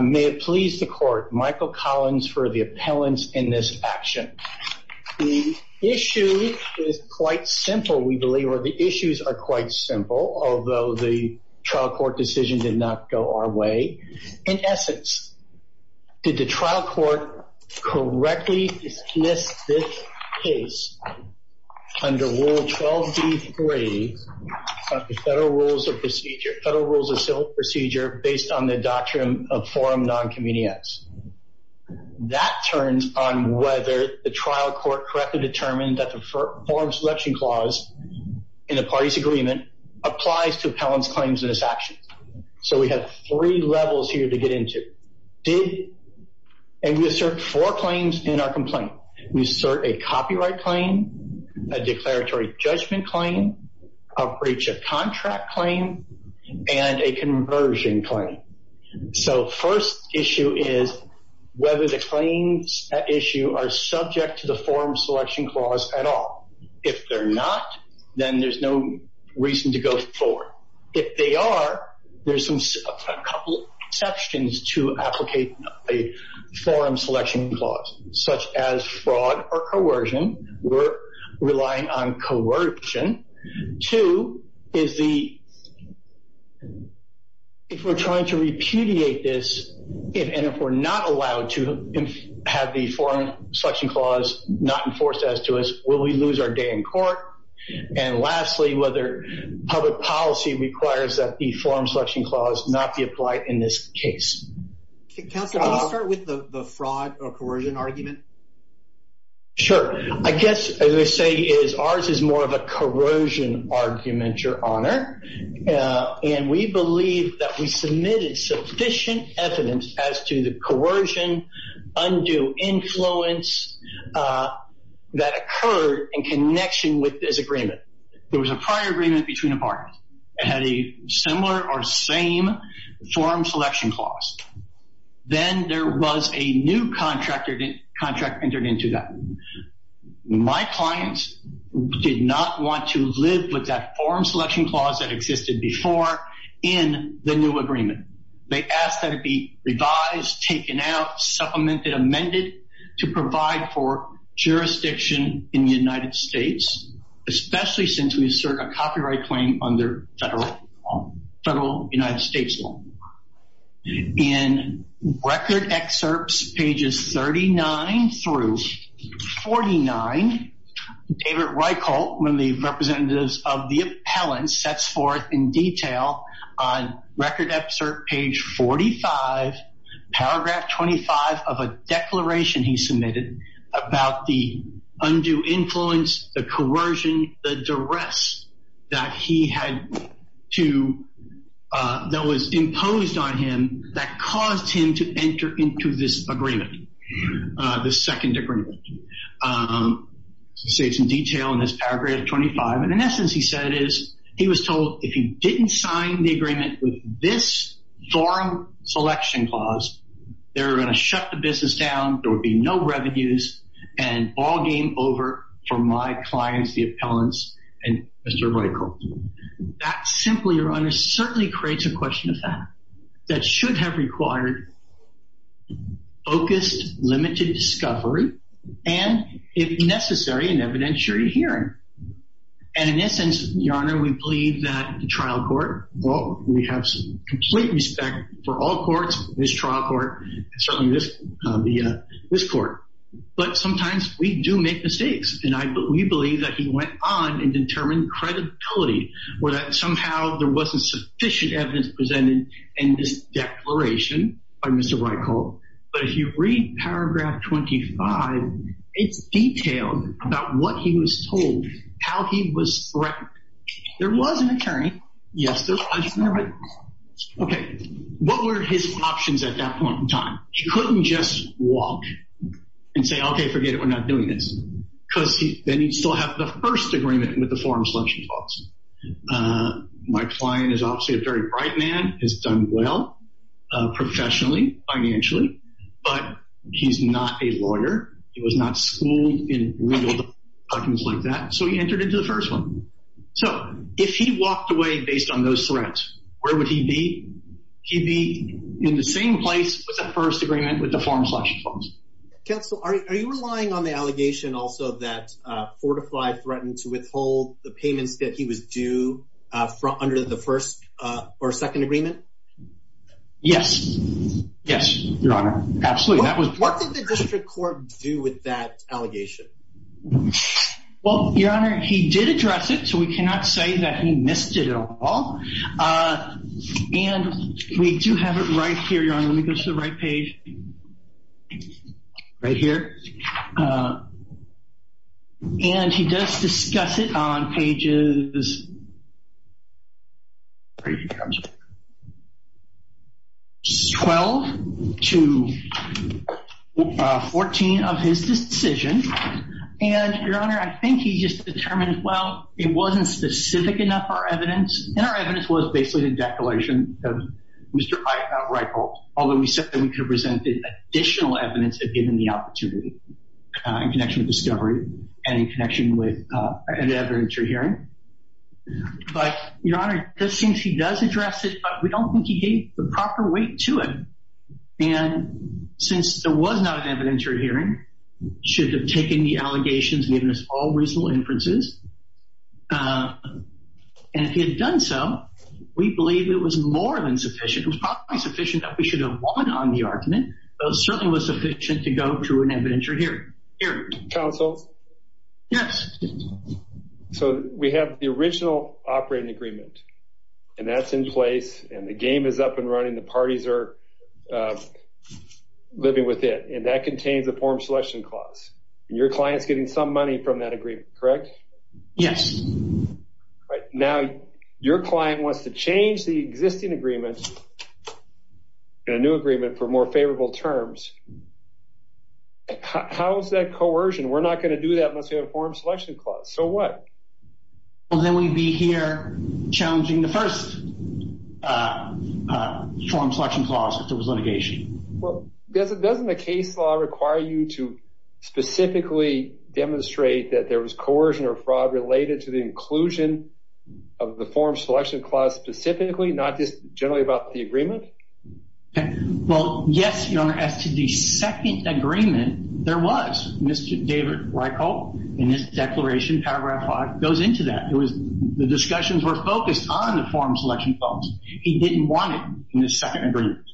May it please the Court, Michael Collins for the appellants in this action. The issue is quite simple, we believe, or the issues are quite simple, although the trial court decision did not go our way. In essence, did the trial court correctly dismiss this case under Rule 12d3 of the Federal Rules of Procedure, based on the doctrine of forum non-convenience? That turns on whether the trial court correctly determined that the forum selection clause in the parties agreement applies to appellants' claims in this action. So we have three levels here to get into. Did, and we assert four claims in our complaint. We assert a copyright claim, a declaratory judgment claim, a breach of contract claim, and a conversion claim. So first issue is whether the claims at issue are subject to the forum selection clause at all. If they're not, then there's no reason to go forward. If they are, there's a couple exceptions to applicate a forum selection clause, such as fraud or coercion. We're relying on coercion. Two is the, if we're trying to repudiate this, and if we're not allowed to have the forum selection clause not enforced as to us, will we lose our day in court? And lastly, whether public policy requires that the forum selection clause not be applied in this case. Counsel, can you start with the fraud or coercion argument? Sure. I guess what I would say is ours is more of a corrosion argument, Your Honor. And we believe that we submitted sufficient evidence as to the coercion, undue influence that occurred in connection with this agreement. There was a prior agreement between the parties. It had a similar or same forum selection clause. Then there was a new contract entered into that. My clients did not want to live with that forum selection clause that existed before in the new agreement. They asked that it be revised, taken out, supplemented, amended to provide for jurisdiction in the United States, especially since we assert a copyright claim under federal United States law. In record excerpts pages 39 through 49, David Reichelt, one of the representatives of the appellant, sets forth in detail on record excerpt page 45, paragraph 25 of a declaration he submitted about the undue influence, the coercion, the duress that he had to, that was imposed on him that caused him to enter into this agreement, this second agreement. He states in detail in this paragraph 25. And in essence, he said is he was told if he didn't sign the agreement with this forum selection clause, they were going to shut the business down. There would be no revenues and all game over for my clients, the appellants and Mr. Reichelt. That simply, Your Honor, certainly creates a question of fact that should have required focused, limited discovery, and if necessary, an evidentiary hearing. And in essence, Your Honor, we believe that the trial court, well, we have some complete respect for all courts, this trial court, certainly this court. But sometimes we do make mistakes, and we believe that he went on and determined credibility or that somehow there wasn't sufficient evidence presented in this declaration by Mr. Reichelt. But if you read paragraph 25, it's detailed about what he was told, how he was threatened. There was an attorney. Yes, there was. Okay. What were his options at that point in time? He couldn't just walk and say, okay, forget it. We're not doing this because then you'd still have the first agreement with the forum selection clause. My client is obviously a very bright man, has done well professionally, financially, but he's not a lawyer. He was not schooled in legal documents like that, so he entered into the first one. So if he walked away based on those threats, where would he be? He'd be in the same place with the first agreement with the forum selection clause. Counsel, are you relying on the allegation also that Fortify threatened to withhold the payments that he was due under the first or second agreement? Yes. Yes, Your Honor. Absolutely. What did the district court do with that allegation? Well, Your Honor, he did address it, so we cannot say that he missed it at all. And we do have it right here, Your Honor. Let me go to the right page. Right here. And he does discuss it on pages 12 to 14 of his decision. And, Your Honor, I think he just determined, well, it wasn't specific enough for evidence. And our evidence was basically the declaration of Mr. Reichold, although we said that we could have presented additional evidence if given the opportunity in connection with discovery and in connection with an evidentiary hearing. But, Your Honor, it seems he does address it, but we don't think he gave the proper weight to it. And since there was not an evidentiary hearing, he should have taken the allegations and given us all reasonable inferences. And if he had done so, we believe it was more than sufficient. It was probably sufficient that we should have won on the argument, but it certainly was sufficient to go through an evidentiary hearing. Counsel? Yes. So we have the original operating agreement, and that's in place, and the game is up and running. The parties are living with it, and that contains a form selection clause. And your client's getting some money from that agreement, correct? Yes. All right. Now, your client wants to change the existing agreement in a new agreement for more favorable terms. How is that coercion? We're not going to do that unless we have a form selection clause. So what? Well, then we'd be here challenging the first form selection clause if there was litigation. Well, doesn't the case law require you to specifically demonstrate that there was coercion or fraud related to the inclusion of the form selection clause specifically, not just generally about the agreement? Well, yes, Your Honor. As to the second agreement, there was. Mr. David Reichhold, in his declaration, paragraph 5, goes into that. The discussions were focused on the form selection clause. He didn't want it in the second agreement,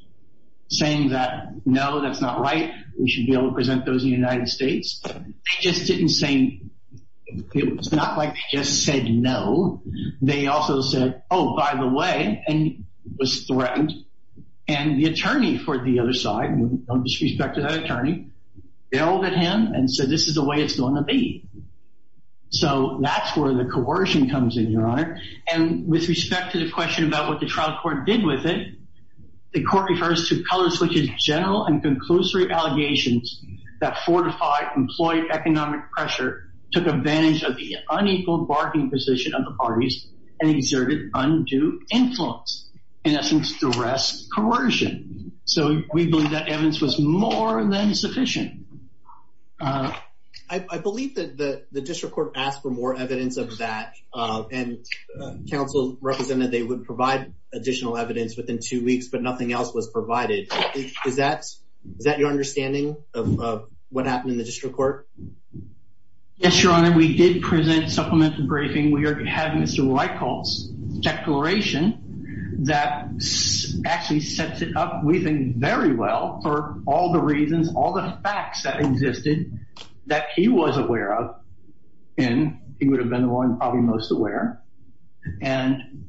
saying that, no, that's not right. We should be able to present those in the United States. They just didn't say—it was not like they just said no. They also said, oh, by the way, and was threatened. And the attorney for the other side, with all due respect to that attorney, yelled at him and said, this is the way it's going to be. So that's where the coercion comes in, Your Honor. And with respect to the question about what the trial court did with it, the court refers to color-switching general and conclusory allegations that fortified employee economic pressure, took advantage of the unequal bargaining position of the parties, and exerted undue influence, in essence, duress coercion. So we believe that evidence was more than sufficient. I believe that the district court asked for more evidence of that, and counsel represented they would provide additional evidence within two weeks, but nothing else was provided. Is that your understanding of what happened in the district court? Yes, Your Honor. We did present supplementary briefing. We have Mr. Reichelt's declaration that actually sets it up, we think, very well for all the reasons, all the facts that existed that he was aware of and he would have been the one probably most aware. I'm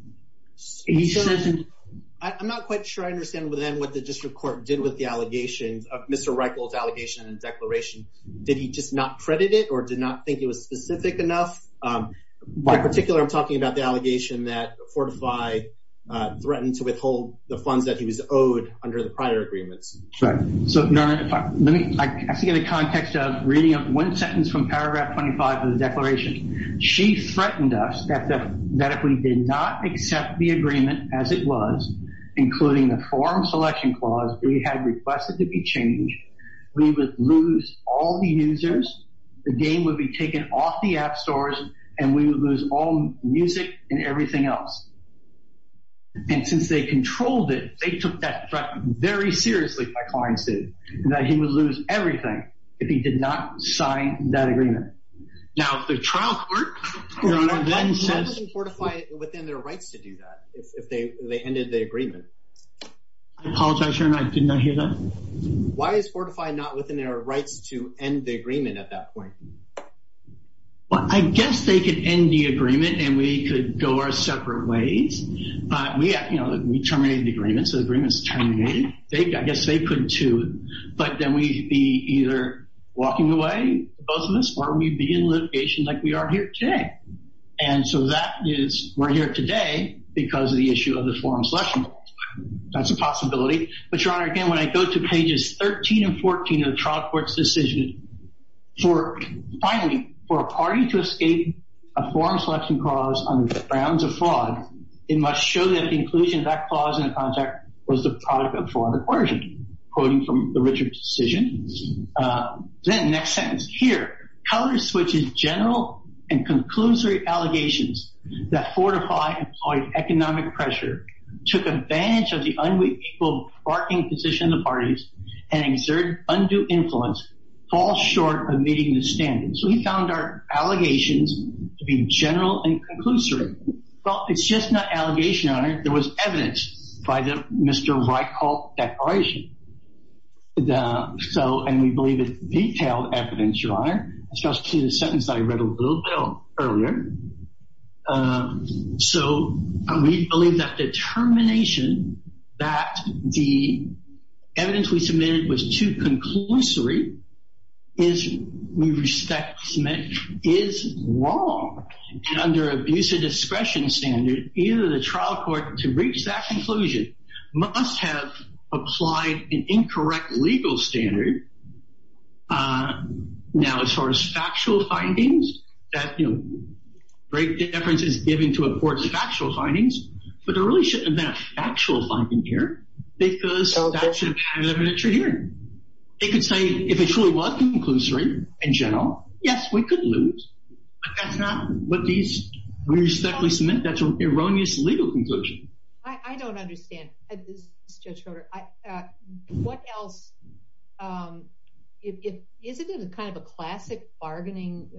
not quite sure I understand what the district court did with the allegations of Mr. Reichelt's allegation and declaration. Did he just not credit it or did not think it was specific enough? By particular, I'm talking about the allegation that Fortify threatened to withhold the funds that he was owed under the prior agreements. So, Your Honor, I have to get a context of reading of one sentence from paragraph 25 of the declaration. She threatened us that if we did not accept the agreement as it was, including the forum selection clause we had requested to be changed, we would lose all the users, the game would be taken off the app stores, and we would lose all music and everything else. And since they controlled it, they took that threat very seriously, my clients did, that he would lose everything if he did not sign that agreement. Now, the trial court, Your Honor, then says… Why wasn't Fortify within their rights to do that if they ended the agreement? I apologize, Your Honor, I did not hear that. Why is Fortify not within their rights to end the agreement at that point? Well, I guess they could end the agreement and we could go our separate ways. We terminated the agreement, so the agreement is terminated. I guess they couldn't, too. But then we'd be either walking away, both of us, or we'd be in litigation like we are here today. And so that is, we're here today because of the issue of the forum selection clause. That's a possibility. But, Your Honor, again, when I go to pages 13 and 14 of the trial court's decision, for, finally, for a party to escape a forum selection clause on the grounds of fraud, it must show that the inclusion of that clause in the contract was the product of fraud and coercion, quoting from the Richard decision. Then, next sentence. Here. So we found our allegations to be general and conclusory. Well, it's just not allegation, Your Honor. There was evidence by the Mr. Reichelt declaration. So, and we believe it's detailed evidence, Your Honor. Especially the sentence that I read a little bit earlier. So we believe that determination that the evidence we submitted was too conclusory is, we respect, is wrong. And under abuse of discretion standard, either the trial court, to reach that conclusion, must have applied an incorrect legal standard. Now, as far as factual findings, that, you know, great difference is given to a court's factual findings. But there really shouldn't have been a factual finding here because that should have had an evidentiary hearing. They could say, if it truly was conclusory, in general, yes, we could lose. But that's not what these, we respectfully submit that's an erroneous legal conclusion. I don't understand. This is Judge Schroeder. What else, if, isn't it kind of a classic bargaining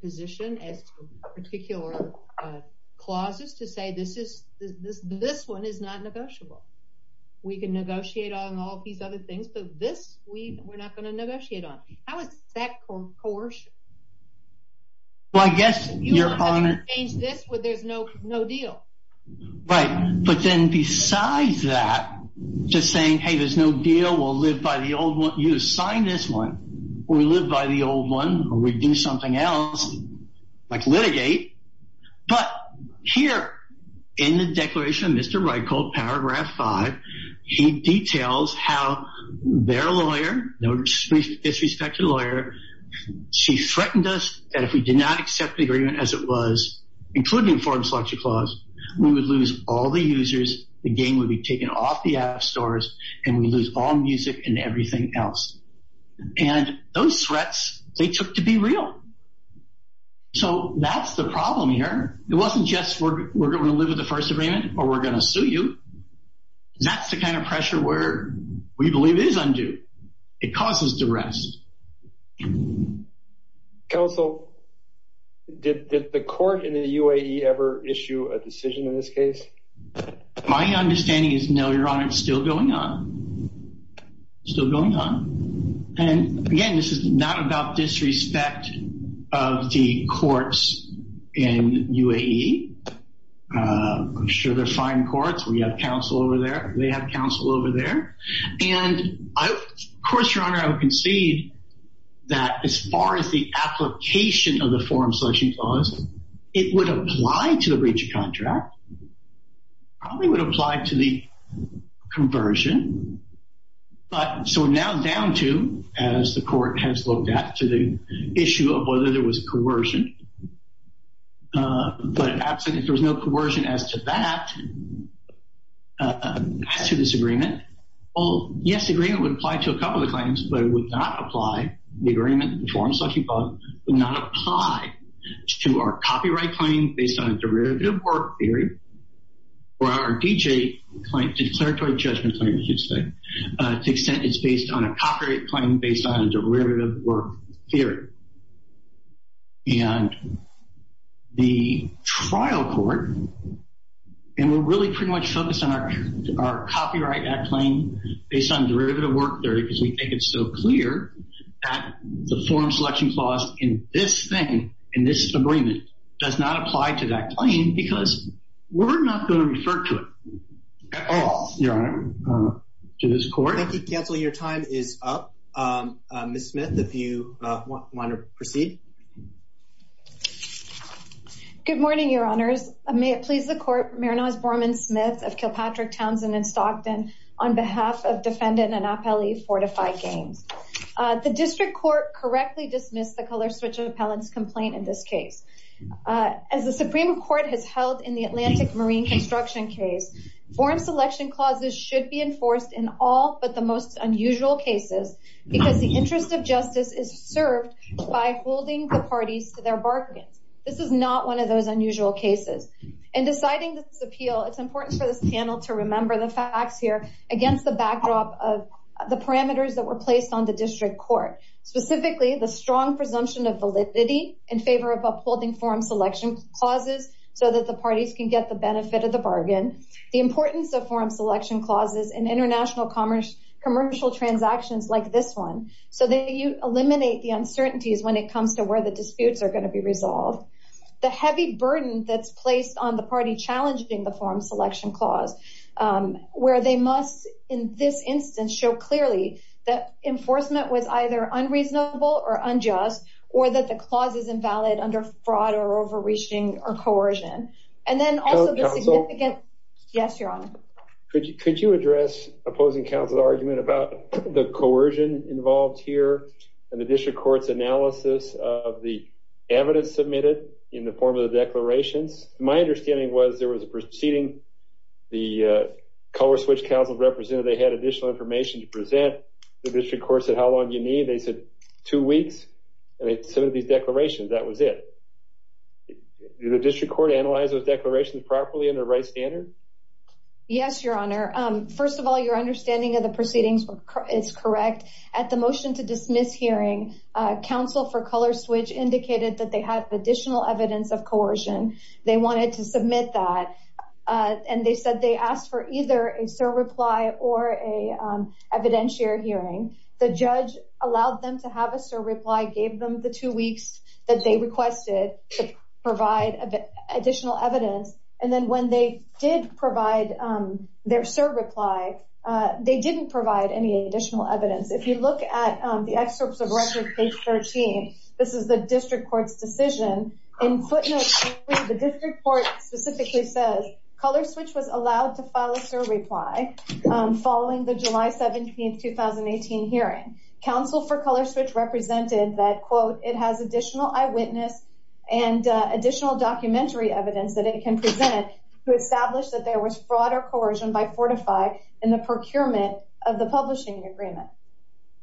position as to particular clauses to say this is, this one is not negotiable. We can negotiate on all these other things, but this we, we're not going to negotiate on. How is that coercion? Well, I guess, Your Honor. You don't have to change this when there's no deal. Right. But then besides that, just saying, hey, there's no deal, we'll live by the old one, you sign this one, or we live by the old one, or we do something else, like litigate. But here in the declaration of Mr. Reichold, paragraph five, he details how their lawyer, no disrespected lawyer, she threatened us that if we did not accept the agreement as it was, including foreign selection clause, we would lose all the users. The game would be taken off the app stores, and we'd lose all music and everything else. And those threats, they took to be real. So that's the problem here. It wasn't just we're going to live with the first agreement or we're going to sue you. That's the kind of pressure where we believe is undue. It causes duress. Counsel, did the court in the UAE ever issue a decision in this case? My understanding is no, Your Honor. It's still going on. Still going on. And, again, this is not about disrespect of the courts in UAE. I'm sure they're fine courts. We have counsel over there. They have counsel over there. And, of course, Your Honor, I would concede that as far as the application of the foreign selection clause, it would apply to the breach of contract. Probably would apply to the conversion. So we're now down to, as the court has looked at, to the issue of whether there was coercion. But if there was no coercion as to that, to this agreement, well, yes, the agreement would apply to a couple of the claims, but it would not apply, the agreement, the foreign selection clause would not apply to our copyright claim based on a derivative work theory or our D.J. claim, declaratory judgment claim, as you'd say, to the extent it's based on a copyright claim based on a derivative work theory. And the trial court, and we're really pretty much focused on our copyright act claim based on derivative work theory because we think it's so clear that the foreign selection clause in this thing, in this agreement, does not apply to that claim because we're not going to refer to it at all, Your Honor, to this court. Thank you, counsel. Your time is up. Ms. Smith, if you want to proceed. Good morning, Your Honors. May it please the court, Mariners Borman-Smith of Kilpatrick, Townsend, and Stockton, on behalf of defendant Anapeli Fortify Gaines. The district court correctly dismissed the color switcher appellant's complaint in this case. As the Supreme Court has held in the Atlantic Marine construction case, foreign selection clauses should be enforced in all but the most unusual cases because the interest of justice is served by holding the parties to their bargains. This is not one of those unusual cases. In deciding this appeal, it's important for this panel to remember the facts here against the backdrop of the parameters that were placed on the district court, specifically the strong presumption of validity in favor of upholding foreign selection clauses so that the parties can get the benefit of the bargain, the importance of foreign selection clauses in international commercial transactions like this one so that you eliminate the uncertainties when it comes to where the disputes are going to be resolved. The heavy burden that's placed on the party challenging the foreign selection clause, where they must, in this instance, show clearly that enforcement was either unreasonable or unjust, or that the clause is invalid under fraud or overreaching or coercion. And then also the significant... Counsel? Yes, Your Honor. Could you address opposing counsel's argument about the coercion involved here and the district court's analysis of the evidence submitted in the form of the declarations? My understanding was there was a proceeding. The color switch counsel represented they had additional information to present. The district court said, how long do you need? They said, two weeks. And they submitted these declarations. That was it. Did the district court analyze those declarations properly under the right standard? Yes, Your Honor. First of all, your understanding of the proceedings is correct. At the motion to dismiss hearing, counsel for color switch indicated that they had additional evidence of coercion. They wanted to submit that. And they said they asked for either a sir reply or an evidentiary hearing. The judge allowed them to have a sir reply, gave them the two weeks that they requested to provide additional evidence. And then when they did provide their sir reply, they didn't provide any additional evidence. If you look at the excerpts of record page 13, this is the district court's decision. In footnote 3, the district court specifically says, color switch was allowed to file a sir reply following the July 17, 2018 hearing. Counsel for color switch represented that, quote, it has additional eyewitness and additional documentary evidence that it can present to establish that there was fraud or coercion by Fortify in the procurement of the publishing agreement.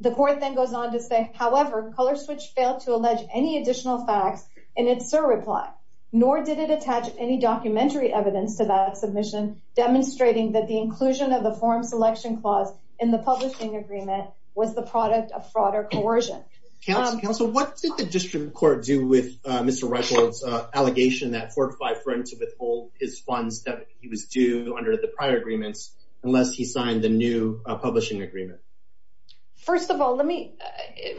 The court then goes on to say, however, color switch failed to allege any additional facts in its sir reply, nor did it attach any documentary evidence to that submission, demonstrating that the inclusion of the form selection clause in the publishing agreement was the product of fraud or coercion. Counsel, what did the district court do with Mr. Reichold's allegation that Fortify threatened to withhold his funds that he was due under the prior agreements unless he signed the new publishing agreement? First of all,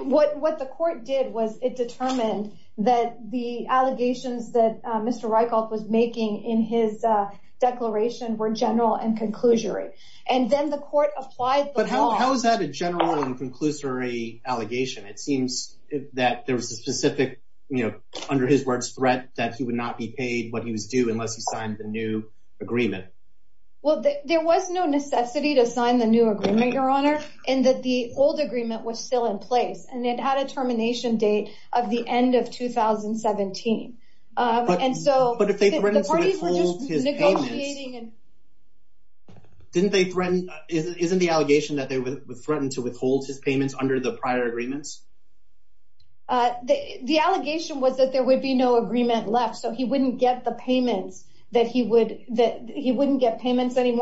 what the court did was it determined that the allegations that Mr. Reichold was making in his declaration were general and conclusory. And then the court applied the law. But how is that a general and conclusory allegation? It seems that there was a specific, you know, under his words, threat that he would not be paid what he was due unless he signed the new agreement. Well, there was no necessity to sign the new agreement, Your Honor, and that the old agreement was still in place. And it had a termination date of the end of 2017. But if they threatened to withhold his payments, isn't the allegation that they threatened to withhold his payments under the prior agreements? The allegation was that there would be no agreement left, so he wouldn't get the payments anymore.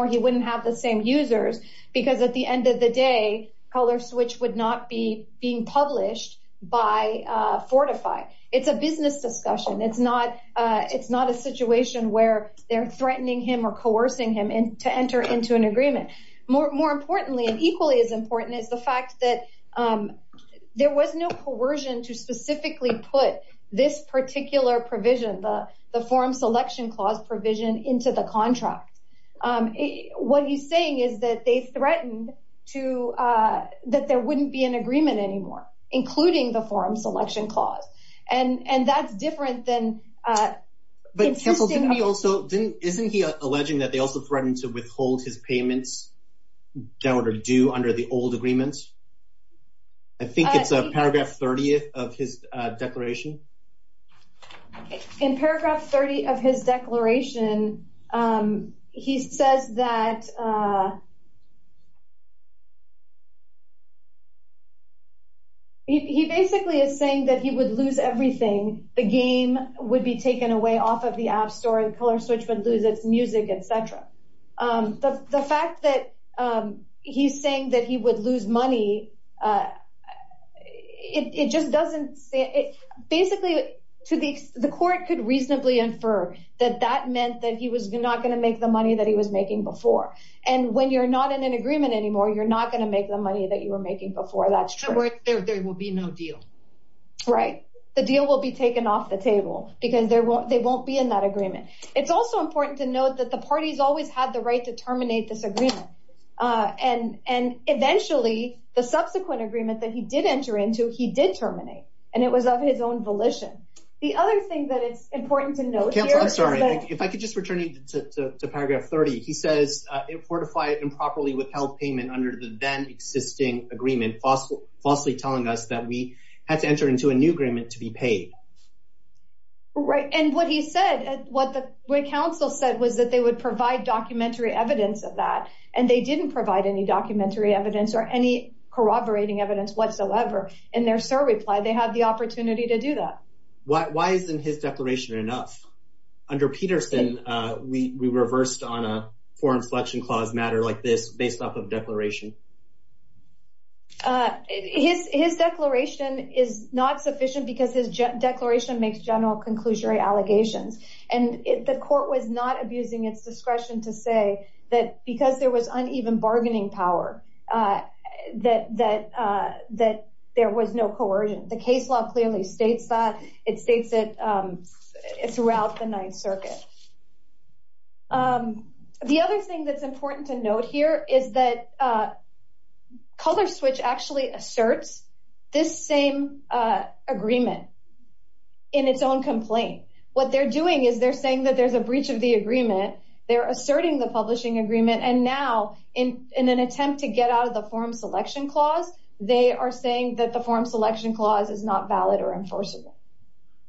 He wouldn't have the same users because at the end of the day, Colorswitch would not be being published by Fortify. It's a business discussion. It's not a situation where they're threatening him or coercing him to enter into an agreement. More importantly, and equally as important, is the fact that there was no coercion to specifically put this particular provision, the form selection clause provision, into the contract. What he's saying is that they threatened that there wouldn't be an agreement anymore, including the form selection clause. And that's different than— But, Counsel, isn't he alleging that they also threatened to withhold his payments that were due under the old agreements? I think it's paragraph 30 of his declaration. In paragraph 30 of his declaration, he says that— He basically is saying that he would lose everything. The game would be taken away off of the App Store, and Colorswitch would lose its music, et cetera. The fact that he's saying that he would lose money, it just doesn't— Basically, the court could reasonably infer that that meant that he was not going to make the money that he was making before. And when you're not in an agreement anymore, you're not going to make the money that you were making before. That's true. There will be no deal. Right. The deal will be taken off the table because they won't be in that agreement. It's also important to note that the parties always had the right to terminate this agreement. And eventually, the subsequent agreement that he did enter into, he did terminate. And it was of his own volition. The other thing that is important to note here— Counsel, I'm sorry. If I could just return you to paragraph 30. He says, Right. And what he said, what counsel said was that they would provide documentary evidence of that. And they didn't provide any documentary evidence or any corroborating evidence whatsoever. And their SIR replied they had the opportunity to do that. Why isn't his declaration enough? Under Peterson, we reversed on a Foreign Selection Clause matter like this based off of declaration. His declaration is not sufficient because his declaration makes general conclusory allegations. And the court was not abusing its discretion to say that because there was uneven bargaining power that there was no coercion. The case law clearly states that. It states it throughout the Ninth Circuit. The other thing that's important to note here is that ColorSwitch actually asserts this same agreement in its own complaint. What they're doing is they're saying that there's a breach of the agreement. They're asserting the publishing agreement. And now, in an attempt to get out of the Foreign Selection Clause, they are saying that the Foreign Selection Clause is not valid or enforceable.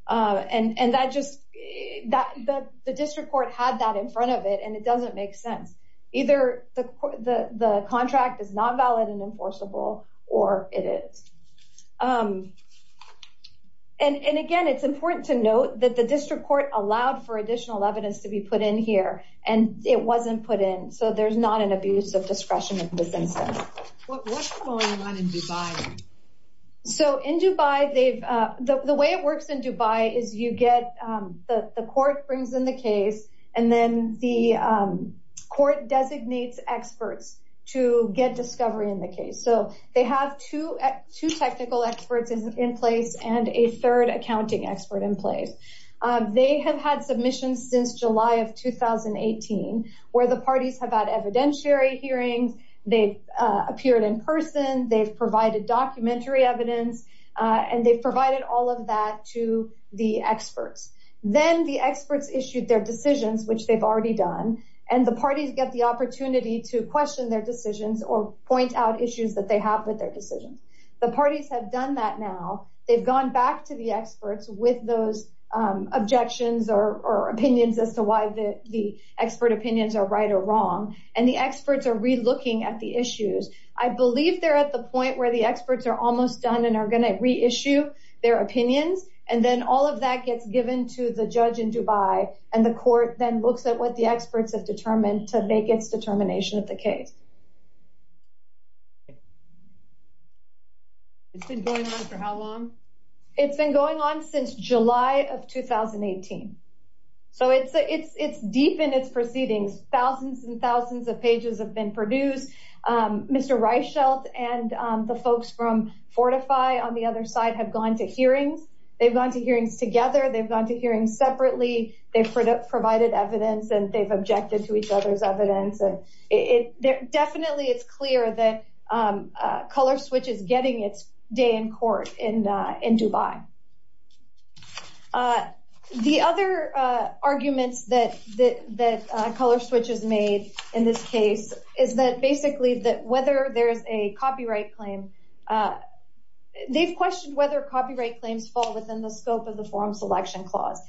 And the district court had that in front of it, and it doesn't make sense. Either the contract is not valid and enforceable, or it is. And again, it's important to note that the district court allowed for additional evidence to be put in here, and it wasn't put in. So there's not an abuse of discretion in this instance. What's going on in Dubai? So in Dubai, the way it works in Dubai is the court brings in the case, and then the court designates experts to get discovery in the case. So they have two technical experts in place and a third accounting expert in place. They have had submissions since July of 2018, where the parties have had evidentiary hearings. They've appeared in person. They've provided documentary evidence, and they've provided all of that to the experts. Then the experts issued their decisions, which they've already done, and the parties get the opportunity to question their decisions or point out issues that they have with their decisions. The parties have done that now. They've gone back to the experts with those objections or opinions as to why the expert opinions are right or wrong, and the experts are relooking at the issues. I believe they're at the point where the experts are almost done and are going to reissue their opinions, and then all of that gets given to the judge in Dubai, and the court then looks at what the experts have determined to make its determination of the case. It's been going on for how long? It's been going on since July of 2018. So it's deep in its proceedings. Thousands and thousands of pages have been produced. Mr. Reichelt and the folks from Fortify on the other side have gone to hearings. They've gone to hearings together. They've gone to hearings separately. They've provided evidence, and they've objected to each other's evidence. Definitely it's clear that ColorSwitch is getting its day in court in Dubai. The other arguments that ColorSwitch has made in this case is that basically that whether there is a copyright claim, they've questioned whether copyright claims fall within the scope of the Forum Selection Clause.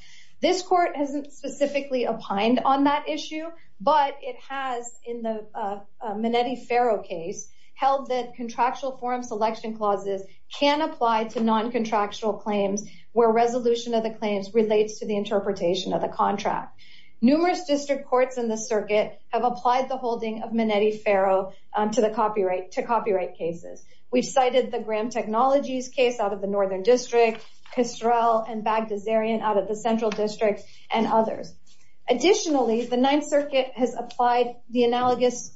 This court hasn't specifically opined on that issue, but it has in the Minetti-Ferro case held that contractual Forum Selection Clauses can apply to non-contractual claims where resolution of the claims relates to the interpretation of the contract. Numerous district courts in the circuit have applied the holding of Minetti-Ferro to copyright cases. We've cited the Graham Technologies case out of the Northern District, Kistrell and Bagdasarian out of the Central District, and others. Additionally, the Ninth Circuit has applied the analogous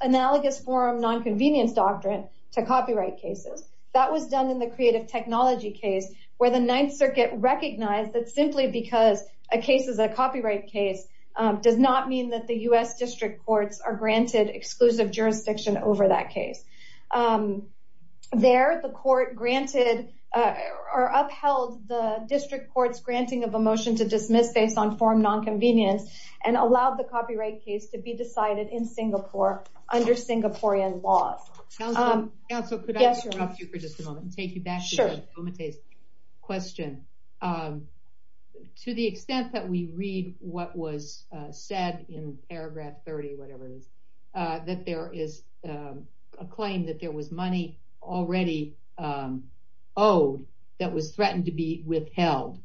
forum nonconvenience doctrine to copyright cases. That was done in the Creative Technology case where the Ninth Circuit recognized that simply because a case is a copyright case does not mean that the U.S. district courts are granted exclusive jurisdiction over that case. There, the court upheld the district court's granting of a motion to dismiss based on forum nonconvenience and allowed the copyright case to be decided in Singapore under Singaporean laws. Counsel, could I interrupt you for just a moment and take you back to Omite's question? To the extent that we read what was said in paragraph 30, whatever it is, that there is a claim that there was money already owed that was threatened to be withheld.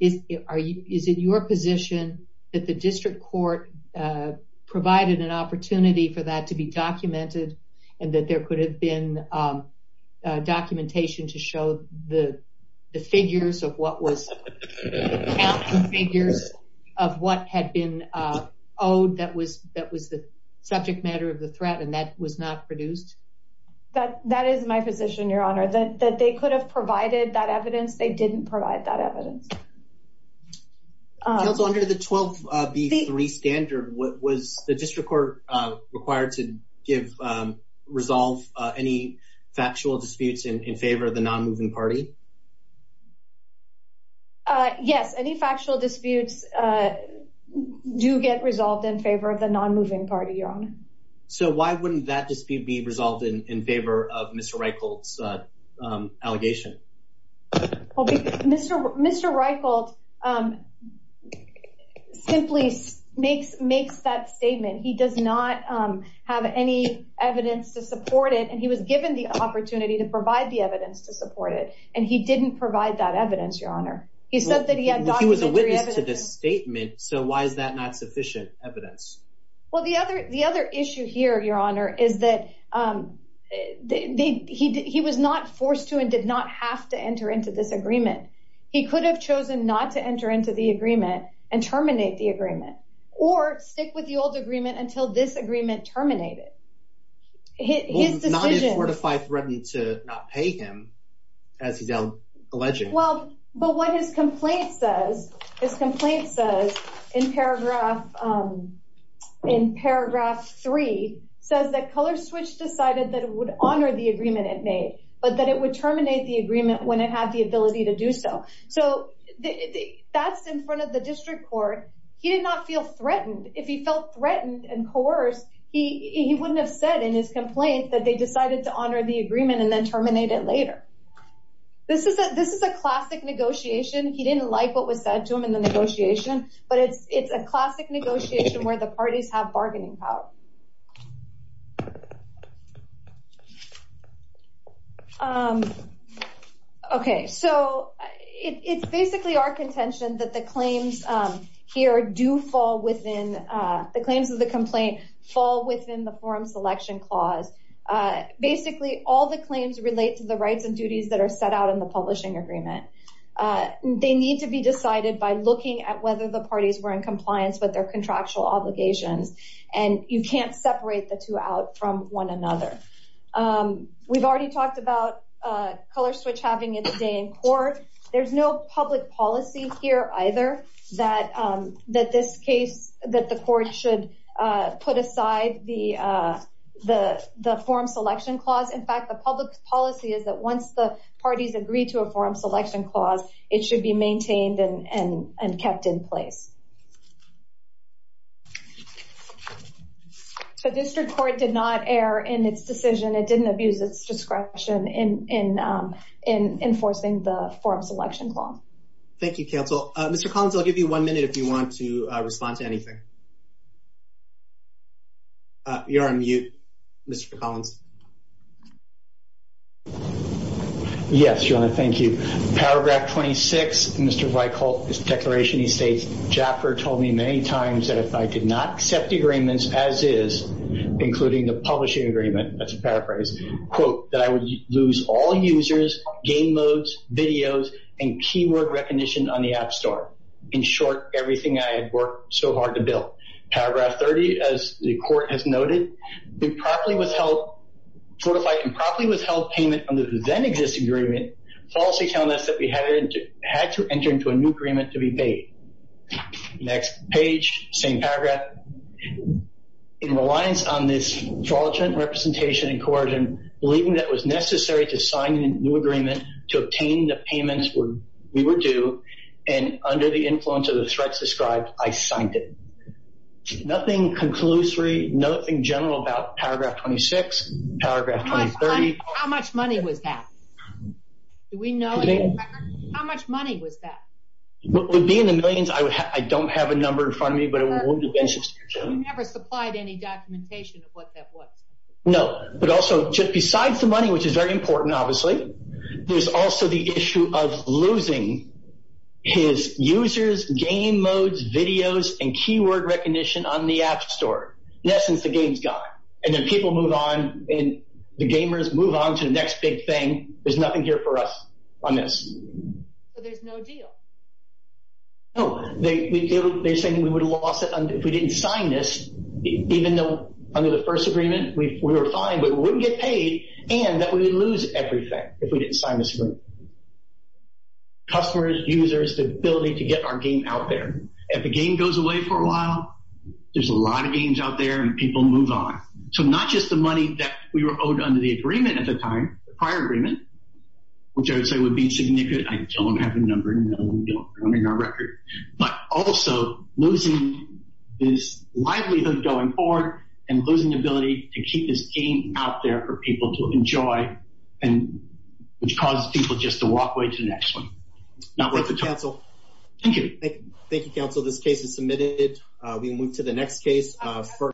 Is it your position that the district court provided an opportunity for that to be documented and that there could have been documentation to show the figures of what had been owed that was the subject matter of the threat and that was not produced? That is my position, Your Honor, that they could have provided that evidence. They didn't provide that evidence. Counsel, under the 12B3 standard, was the district court required to give, resolve any factual disputes in favor of the nonmoving party? Yes, any factual disputes do get resolved in favor of the nonmoving party, Your Honor. So why wouldn't that dispute be resolved in favor of Mr. Reichelt's allegation? Mr. Reichelt simply makes that statement. He does not have any evidence to support it, and he was given the opportunity to provide the evidence to support it, and he didn't provide that evidence, Your Honor. He said that he had documentary evidence. He was a witness to the statement, so why is that not sufficient evidence? Well, the other issue here, Your Honor, is that he was not forced to and did not have to enter into this agreement. He could have chosen not to enter into the agreement and terminate the agreement or stick with the old agreement until this agreement terminated. Well, not if Fortify threatened to not pay him, as he's alleging. Well, but what his complaint says, his complaint says in paragraph 3, says that Color Switch decided that it would honor the agreement it made, but that it would terminate the agreement when it had the ability to do so. So that's in front of the district court. He did not feel threatened. If he felt threatened and coerced, he wouldn't have said in his complaint that they decided to honor the agreement and then terminate it later. This is a classic negotiation. He didn't like what was said to him in the negotiation, but it's a classic negotiation where the parties have bargaining power. Okay, so it's basically our contention that the claims here do fall within, the claims of the complaint fall within the forum selection clause. Basically, all the claims relate to the rights and duties that are set out in the publishing agreement. They need to be decided by looking at whether the parties were in compliance with their contractual obligations, and you can't separate the two out from one another. We've already talked about Color Switch having its day in court. There's no public policy here either that the court should put aside the forum selection clause. In fact, the public policy is that once the parties agree to a forum selection clause, it should be maintained and kept in place. So District Court did not err in its decision. It didn't abuse its discretion in enforcing the forum selection clause. Thank you, counsel. Mr. Collins, I'll give you one minute if you want to respond to anything. You're on mute, Mr. Collins. Yes, Joanna, thank you. Paragraph 26, Mr. Reichholdt, this declaration, he states, Jaffer told me many times that if I did not accept the agreements as is, including the publishing agreement, that's a paraphrase, quote, that I would lose all users, game modes, videos, and keyword recognition on the app store. In short, everything I had worked so hard to build. Paragraph 30, as the court has noted, we properly withheld, fortified and properly withheld payment under the then existing agreement, policy telling us that we had to enter into a new agreement to be paid. Next page, same paragraph. In reliance on this fraudulent representation and coercion, believing that it was necessary to sign a new agreement to obtain the payments we were due, and under the influence of the threats described, I signed it. Nothing conclusory, nothing general about paragraph 26, paragraph 2030. How much money was that? Do we know? How much money was that? It would be in the millions. I don't have a number in front of me, but it would be. You never supplied any documentation of what that was. No, but also, just besides the money, which is very important, obviously, there's also the issue of losing his users, game modes, videos, and keyword recognition on the app store. In essence, the game's gone. And then people move on, and the gamers move on to the next big thing. There's nothing here for us on this. So there's no deal? No. They're saying we would have lost it if we didn't sign this, even though under the first agreement, we were fine, but we wouldn't get paid, and that we would lose everything if we didn't sign this agreement. Customers, users, the ability to get our game out there. If the game goes away for a while, there's a lot of games out there, and people move on. So not just the money that we were owed under the agreement at the time, the prior agreement, which I would say would be significant. I don't have a number. No, we don't. I don't have a record. But also losing this livelihood going forward and losing the ability to keep this game out there for people to enjoy, which causes people just to walk away to the next one. Not worth the time. Thank you, counsel. Thank you. Thank you, counsel. This case is submitted. We can move to the next case.